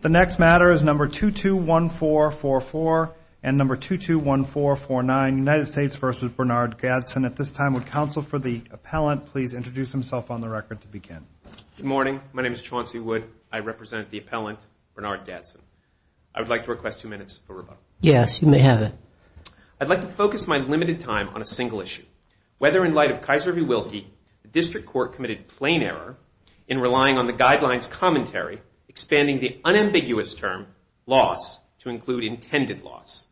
Good morning. My name is Chauncey Wood. I represent the appellant, Bernard Gadsen. I'd like to request two minutes for rebuttal. Yes, you may have it. I'd like to focus my limited time on a single issue. Whether in light of Kaiser v. Wilkie, the District Court committed plain error in relying on the guidelines commentary, expanding the unambiguous term loss to include intended loss.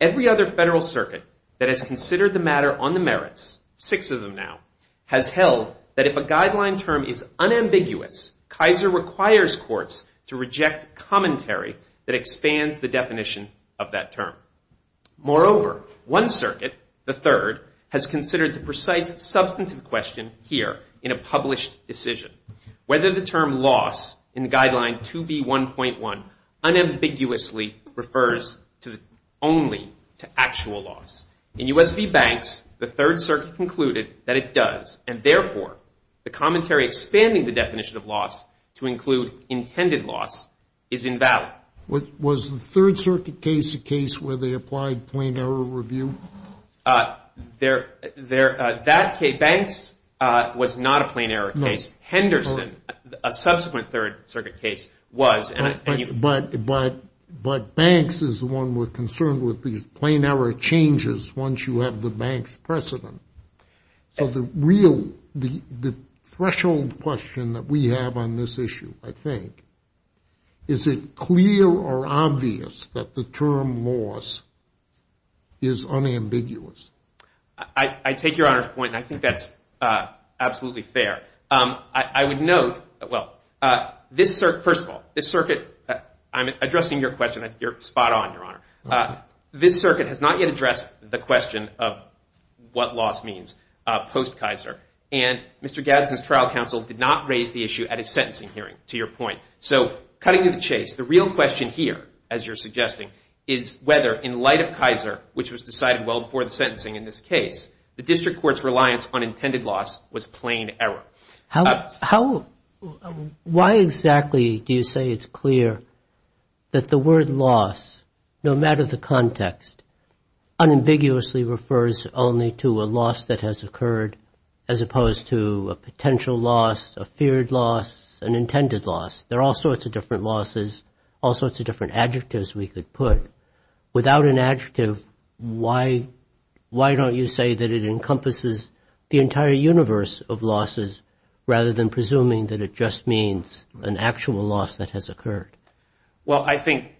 Every other federal circuit that has considered the matter on the merits, six of them now, has held that if a guideline term is unambiguous, Kaiser requires courts to reject commentary that expands the definition of that term. Moreover, one circuit, the third, has considered the precise substantive question here in a published decision. Whether the term loss in the guideline 2B1.1 unambiguously refers only to actual loss. In U.S. v. Banks, the third circuit concluded that it does, and therefore the commentary expanding the definition of loss to include intended loss is invalid. Was the third circuit case a case where they applied plain error review? Banks was not a plain error case. Henderson, a subsequent third circuit case, was. But Banks is the one we're concerned with, because plain error changes once you have the bank's precedent. So the threshold question that we have on this issue, I think, is it clear or obvious that the term loss is unambiguous? I take your Honor's point, and I think that's absolutely fair. I would note, well, this circuit, first of all, this circuit, I'm addressing your question, you're spot on, Your Honor. This circuit has not yet addressed the question of what loss means post-Kaiser. And Mr. Gadsden's trial counsel did not raise the issue at his sentencing hearing, to your point. So cutting to the chase, the real question here, as you're suggesting, is whether, in light of Kaiser, which was decided well before the sentencing in this case, the district court's reliance on intended loss was plain error. Why exactly do you say it's clear that the word loss, no matter the context, unambiguously refers only to a loss that has occurred, as opposed to a potential loss, a feared loss, an intended loss? There are all sorts of different losses, all sorts of different adjectives we could put. Without an adjective, why don't you say that it encompasses the entire universe of losses, rather than presuming that it just means an actual loss that has occurred? Well, I think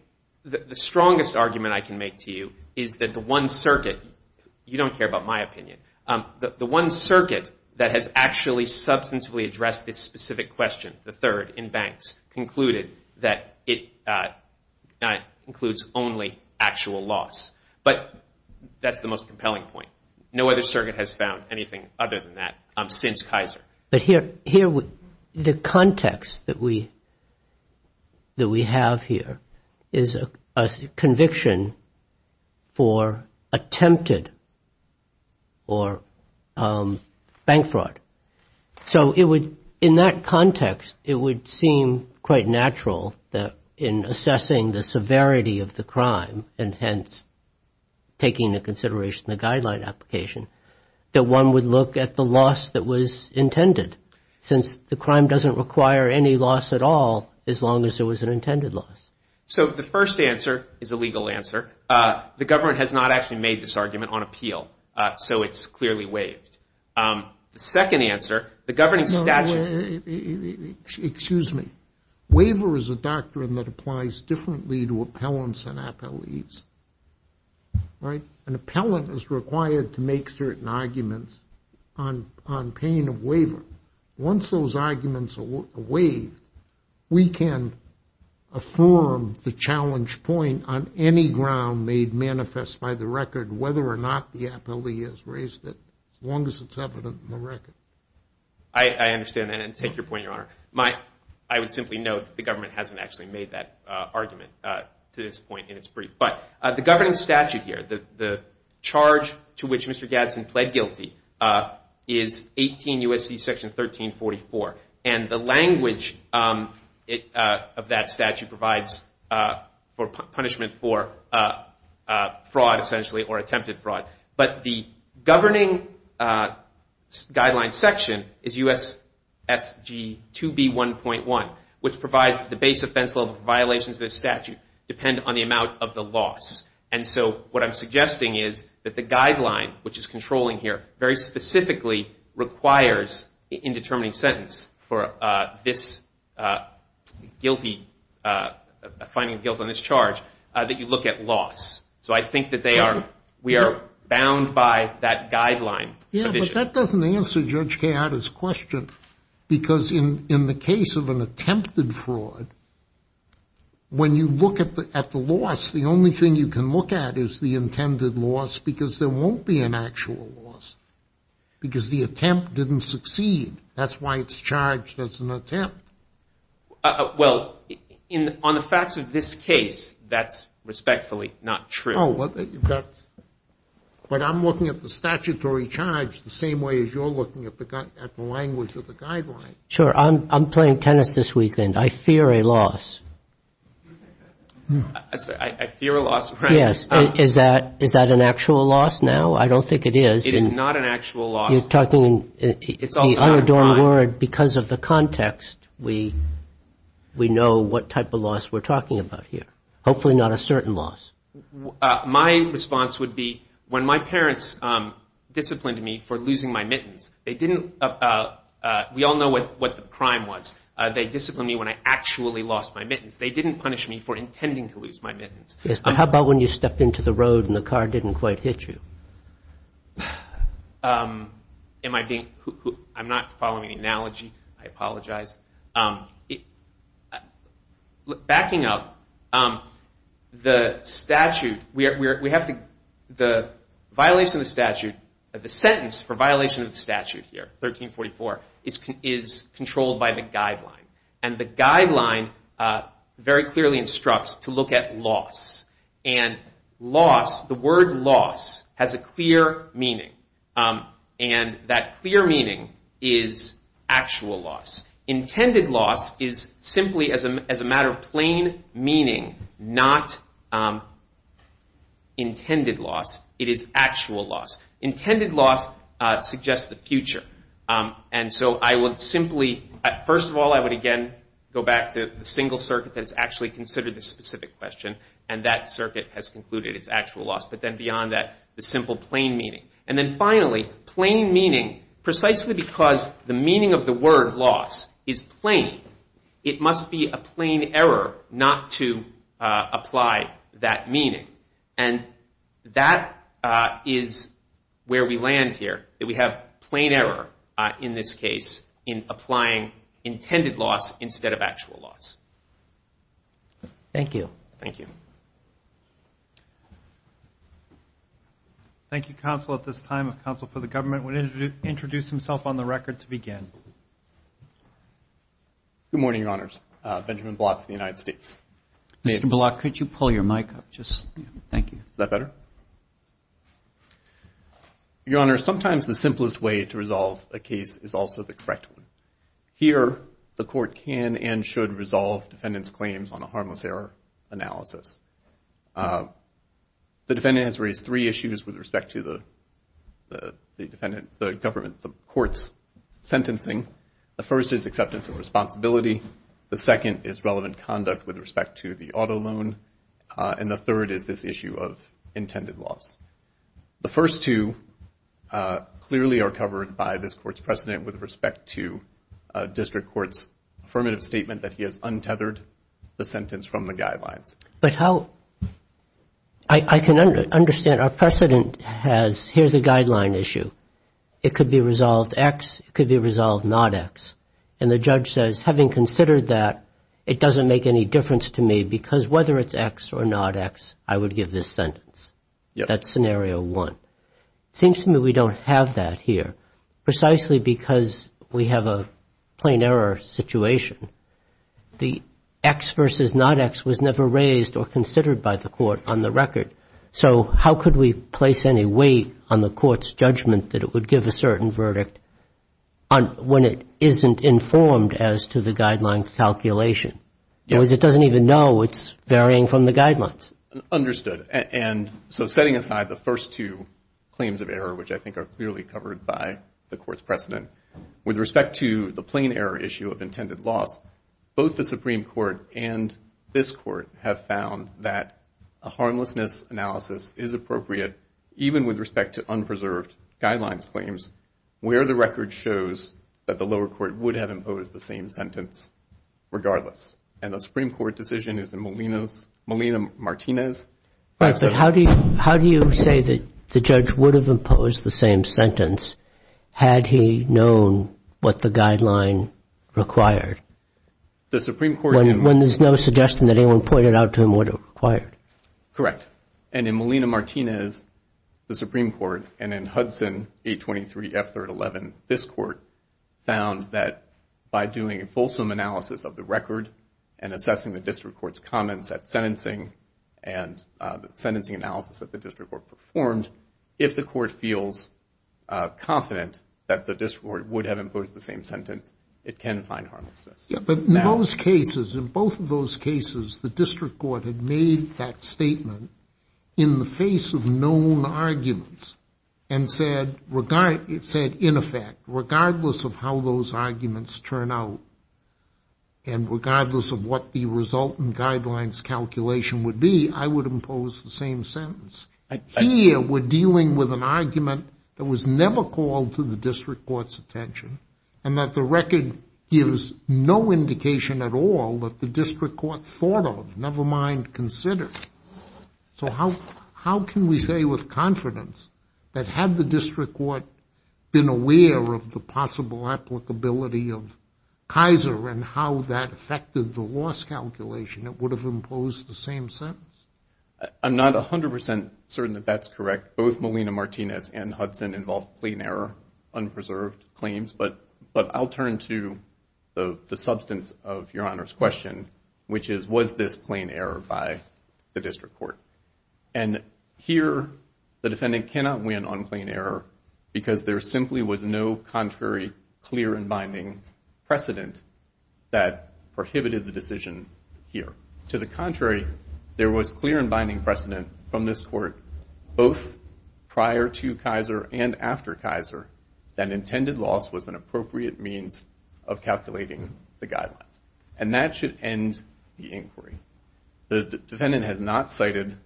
the strongest argument I can make to you is that the one circuit, you don't care about my opinion, the one circuit that has actually substantively addressed this specific question, the third, in Banks, concluded that it includes only actual loss. But that's the most compelling point. No other circuit has found anything other than that since Kaiser. But here, the context that we have here is a conviction for attempted or bank fraud. So, in that context, it would seem quite natural that in assessing the severity of the crime, and hence taking into consideration the guideline application, that one would look at the loss that was intended, since the crime doesn't require any loss at all, as long as it was an intended loss. So, the first answer is a legal answer. The government has not actually made this argument on appeal, so it's clearly waived. The second answer, the governing statute... Excuse me. Waiver is a doctrine that applies differently to appellants and appellees, right? An appellant is required to make certain arguments on paying a waiver. Once those arguments are waived, we can affirm the challenge point on any ground made manifest by the record, whether or not the appellee has raised it, as long as it's evident in the record. I understand that, and take your point, Your Honor. I would simply note that the government hasn't actually made that argument to this point in its brief. But the governing statute here, the charge to which Mr. Gadsden pled guilty, is 18 U.S.C. section 1344. And the language of that statute provides for punishment for fraud, essentially, or attempted fraud. But the governing guideline section is U.S.S.G. 2B.1.1, which provides the base offense level for violations of this statute depend on the amount of the loss. And so, what I'm suggesting is that the guideline, which is controlling here, very specifically requires, in determining sentence, for this finding of guilt on this charge, that you look at loss. So, I think that we are bound by that condition. Yeah, but that doesn't answer Judge Keada's question. Because in the case of an attempted fraud, when you look at the loss, the only thing you can look at is the intended loss, because there won't be an actual loss. Because the attempt didn't succeed. That's why it's charged as an attempt. Well, on the facts of this case, that's respectfully not true. Well, but I'm looking at the statutory charge the same way as you're looking at the language of the guideline. Sure. I'm playing tennis this weekend. I fear a loss. I fear a loss, correct. Yes. Is that an actual loss now? I don't think it is. It is not an actual loss. You're talking the unadorned word. Because of the context, we know what type of loss we're talking about here. Hopefully not a certain loss. My response would be, when my parents disciplined me for losing my mittens, we all know what the crime was. They disciplined me when I actually lost my mittens. They didn't punish me for intending to lose my mittens. Yes, but how about when you stepped into the road and the car didn't quite hit you? I'm not following the guidelines. The violation of the statute, the sentence for violation of the statute here, 1344, is controlled by the guideline. The guideline very clearly instructs to look at loss. The word loss has a clear meaning. That clear meaning is actual loss. Intended loss is simply as a matter of plain meaning, not intended loss. It is actual loss. Intended loss suggests the future. First of all, I would again go back to the single circuit that's actually considered the specific question. And that circuit has concluded its actual loss. But then beyond that, the simple plain meaning. And then finally, plain meaning, precisely because the meaning of the loss is plain, it must be a plain error not to apply that meaning. And that is where we land here, that we have plain error in this case in applying intended loss instead of actual loss. Thank you. Thank you. Thank you, counsel. At this time, counsel for the government would introduce himself on the record to begin. Good morning, your honors. Benjamin Block of the United States. Mr. Block, could you pull your mic up? Thank you. Is that better? Your honor, sometimes the simplest way to resolve a case is also the correct one. Here, the court can and should resolve defendant's claims on a harmless error analysis. The defendant has raised three issues with respect to the court's sentencing. The first is acceptance of responsibility. The second is relevant conduct with respect to the auto loan. And the third is this issue of intended loss. The first two clearly are covered by this court's precedent with respect to district court's affirmative statement that he has untethered the sentence from the guidelines. But how – I can understand. Our precedent has – here's a guideline issue. It could be resolved X. It could be resolved not X. And the judge says, having considered that, it doesn't make any difference to me because whether it's X or not X, I would give this sentence. That's scenario one. It seems to me we don't have that here precisely because we have a plain error situation. The X versus not X was never raised or considered by the court on the record. So how could we place any weight on the court's judgment that it would give a certain verdict when it isn't informed as to the guideline calculation? Because it doesn't even know it's varying from the guidelines. Understood. And so setting aside the first two claims of error, which I think are clearly covered by the court's precedent, with respect to the plain error issue of intended loss, both the Supreme Court and this court have found that a harmlessness analysis is appropriate even with respect to unpreserved guidelines claims where the record shows that the lower court would have imposed the same sentence regardless. And the Supreme Court decision is in Molina's – Molina-Martinez. Right. But how do you say that the judge would have imposed the same sentence had he known what the guideline required? The Supreme Court – When there's no suggestion that anyone pointed out to him what it required. Correct. And in Molina-Martinez, the Supreme Court, and in Hudson 823 F. 3rd. 11, this court found that by doing a fulsome analysis of the record and assessing the district court's comments at the time, if the court feels confident that the district court would have imposed the same sentence, it can find harmlessness. Yeah, but in those cases, in both of those cases, the district court had made that statement in the face of known arguments and said – it said, in effect, regardless of how those arguments turn out and regardless of what the resultant argument that was never called to the district court's attention and that the record gives no indication at all that the district court thought of, never mind considered. So how can we say with confidence that had the district court been aware of the possible applicability of Kaiser and how that affected the loss calculation, it would have imposed the same sentence? I'm not 100% certain that that's correct. Both Molina-Martinez and Hudson involved plain error, unpreserved claims. But I'll turn to the substance of Your Honor's question, which is, was this plain error by the district court? And here, the defendant cannot win on plain error because there simply was no contrary clear and binding precedent that prohibited the There was clear and binding precedent from this court, both prior to Kaiser and after Kaiser, that intended loss was an appropriate means of calculating the guidelines. And that should end the inquiry. The defendant has not cited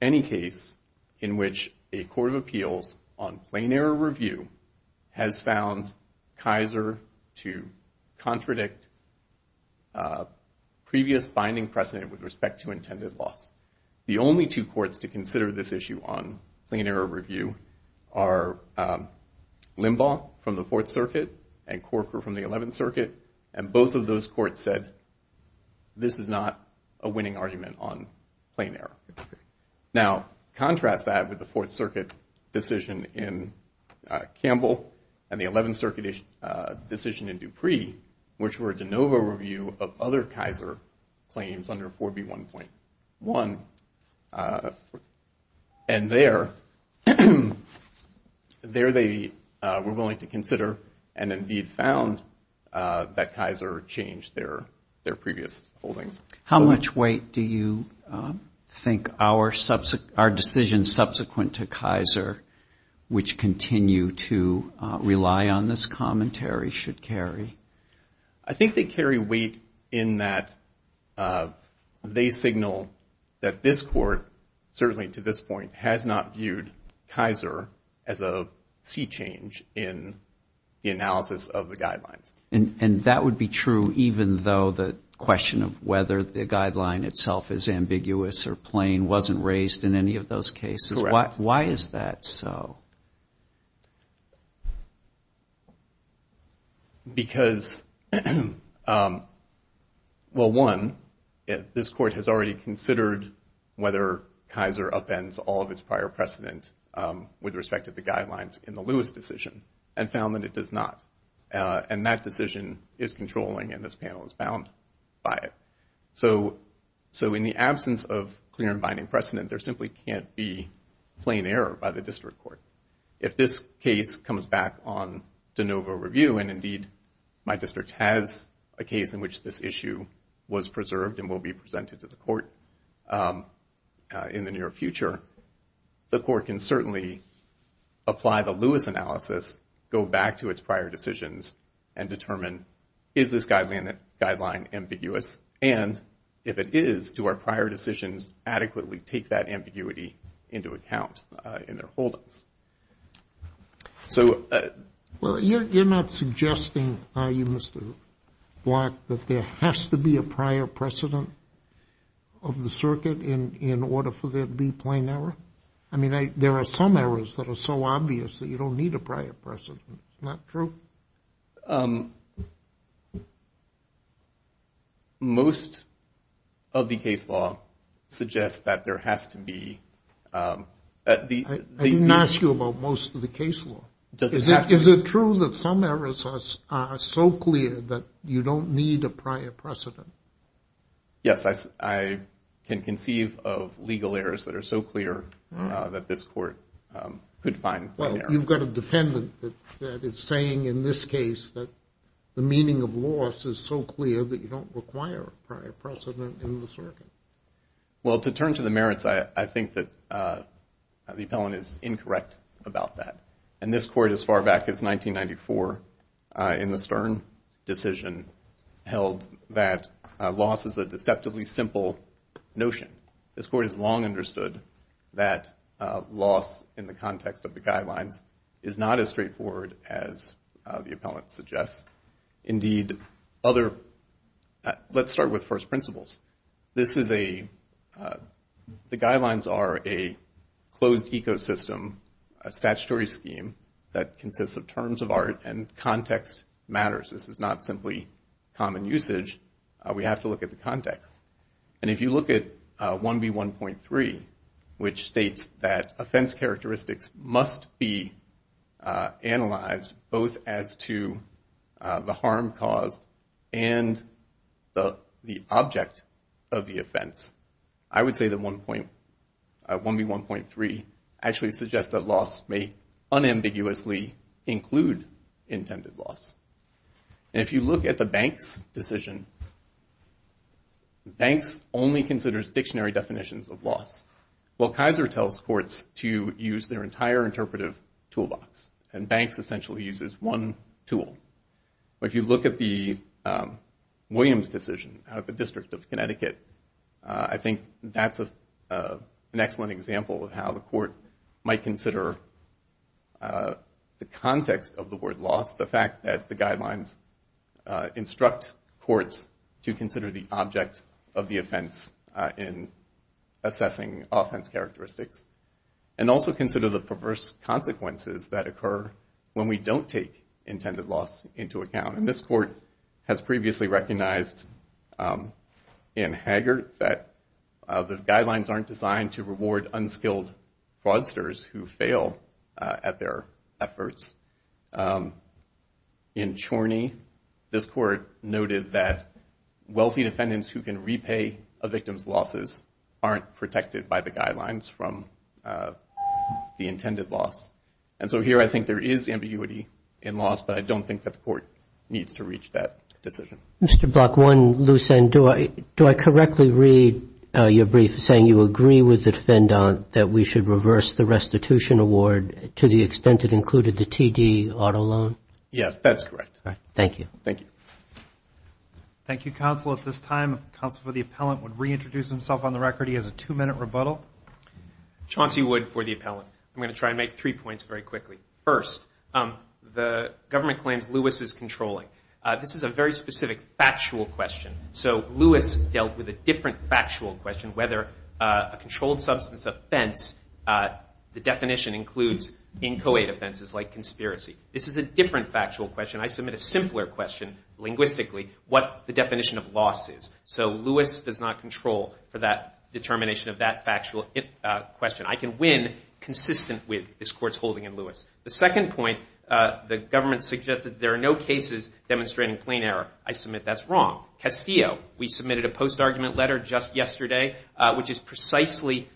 any case in which a court of appeals on plain error review has found Kaiser to contradict previous binding precedent with respect to intended loss. The only two courts to consider this issue on plain error review are Limbaugh from the Fourth Circuit and Corker from the Eleventh Circuit. And both of those courts said this is not a winning and the Eleventh Circuit decision in Dupree, which were a de novo review of other Kaiser claims under 4B1.1. And there, they were willing to consider and indeed found that Kaiser changed their previous holdings. How much weight do you think our decision subsequent to Kaiser, which continue to rely on this commentary, should carry? I think they carry weight in that they signal that this court, certainly to this point, has not viewed Kaiser as a sea change in the analysis of the guidelines. And that would be true even though the question of whether the guideline itself is ambiguous or why is that so? Because, well, one, this court has already considered whether Kaiser upends all of its prior precedent with respect to the guidelines in the Lewis decision and found that it does not. And that decision is controlling and this panel is bound by it. So in the absence of clear and binding precedent, there simply can't be plain error by the district court. If this case comes back on de novo review and indeed my district has a case in which this issue was preserved and will be presented to the court in the near future, the court can certainly apply the Lewis analysis, go back to its prior decisions and determine is this guideline ambiguous? And if it is, do our prior decisions adequately take that ambiguity into account in their holdings? So... Well, you're not suggesting, are you, Mr. Block, that there has to be a prior precedent of the circuit in order for there to be plain error? I mean, there are some errors that are so obvious that you don't need a prior precedent. It's not true? Most of the case law suggests that there has to be... I didn't ask you about most of the case law. Is it true that some errors are so clear that you don't need a prior precedent? Yes, I can conceive of legal errors that are so clear that this court could find... Well, you've got a defendant that is saying in this case that the meaning of loss is so clear that you don't require a prior precedent in the circuit. Well, to turn to the merits, I think that the appellant is incorrect about that. And this court, as far back as 1994 in the Stern decision, held that loss is a deceptively simple notion. This court has long understood that loss in the context of the guidelines is not as straightforward as the appellant suggests. Indeed, other let's start with first principles. This is a... The guidelines are a closed ecosystem, a statutory scheme that consists of terms of art and context matters. This is not simply common usage. We have to look at the context. And if you look at 1B1.3, which states that offense is the object of the offense, I would say that 1B1.3 actually suggests that loss may unambiguously include intended loss. And if you look at the Banks decision, Banks only considers dictionary definitions of loss. Well, Kaiser tells courts to use their entire interpretive toolbox, and Banks essentially uses one tool. But if you look at the Williams decision out of the District of Connecticut, I think that's an excellent example of how the court might consider the context of the word loss, the fact that the guidelines instruct courts to consider the object of the offense in assessing offense characteristics, and also consider the perverse consequences that occur when we don't take intended loss into account. And this court has previously recognized in Haggard that the guidelines aren't designed to reward unskilled fraudsters who fail at their efforts. In Chorney, this court noted that wealthy defendants who can repay a victim's losses aren't protected by the guidelines from the intended loss. And so here I think there is ambiguity in loss, but I don't think that the court needs to reach that decision. Mr. Block, one loose end. Do I correctly read your brief saying you agree with the defendant that we should reverse the restitution award to the extent it included the TD auto loan? Yes, that's correct. Thank you. Thank you. Thank you, counsel. At this time, counsel for the appellant would reintroduce himself on the record. He has a two-minute rebuttal. Chauncey Wood for the appellant. I'm going to try and make three points very quickly. First, the government claims Lewis is controlling. This is a very specific factual question. So Lewis dealt with a different factual question, whether a controlled substance offense, the definition includes inchoate offenses like conspiracy. This is a different factual question. I submit a simpler question linguistically, what the definition of loss is. So Lewis does not control for that determination of that factual question. I can win consistent with this court's holding in Lewis. The second point, the government suggested there are no cases demonstrating plain error. I submit that's wrong. Castillo, we submitted a post-argument letter just yesterday, which is precisely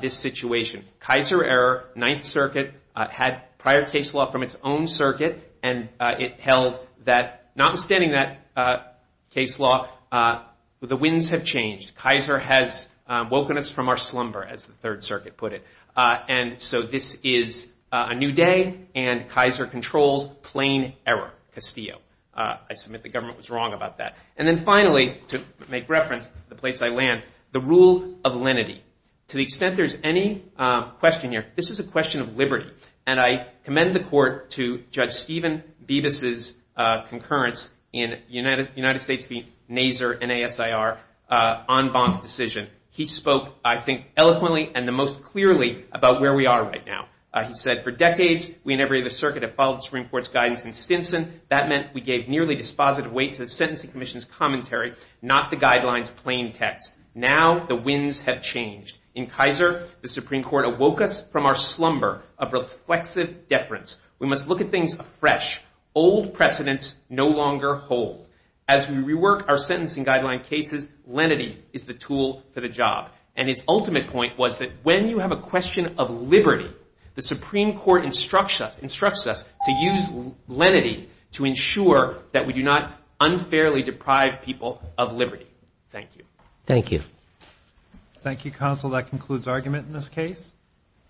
this situation. Kaiser error, Ninth Circuit had prior case law from its own circuit, and it held that, notwithstanding that case law, the winds have changed. Kaiser has woken us from our slumber, as the Third Circuit put it. And so this is a new day, and Kaiser controls plain error, Castillo. I submit the government was wrong about that. And then finally, to make reference to the place I land, the rule of lenity. To the extent there's any question here, this is a question of liberty. And I commend the court to Judge Stephen Bibas's concurrence in United States v. Nasr, N-A-S-I-R, en banc decision. He spoke, I think, eloquently and the most clearly about where we are right now. He said, for decades, we and every other circuit have followed the Supreme Court's guidance in Stinson. That meant we gave nearly dispositive weight to the sentencing commission's commentary, not the guidelines plain text. Now the winds have changed. In Kaiser, the Supreme Court awoke us from our slumber of reflexive deference. We must look at things fresh. Old precedents no longer hold. As we rework our sentencing guideline cases, lenity is the tool for the job. And his ultimate point was that when you have a question of liberty, the Supreme Court instructs us to use lenity to ensure that we do not unfairly deprive people of liberty. Thank you. Thank you. Thank you, counsel. That concludes argument in this case.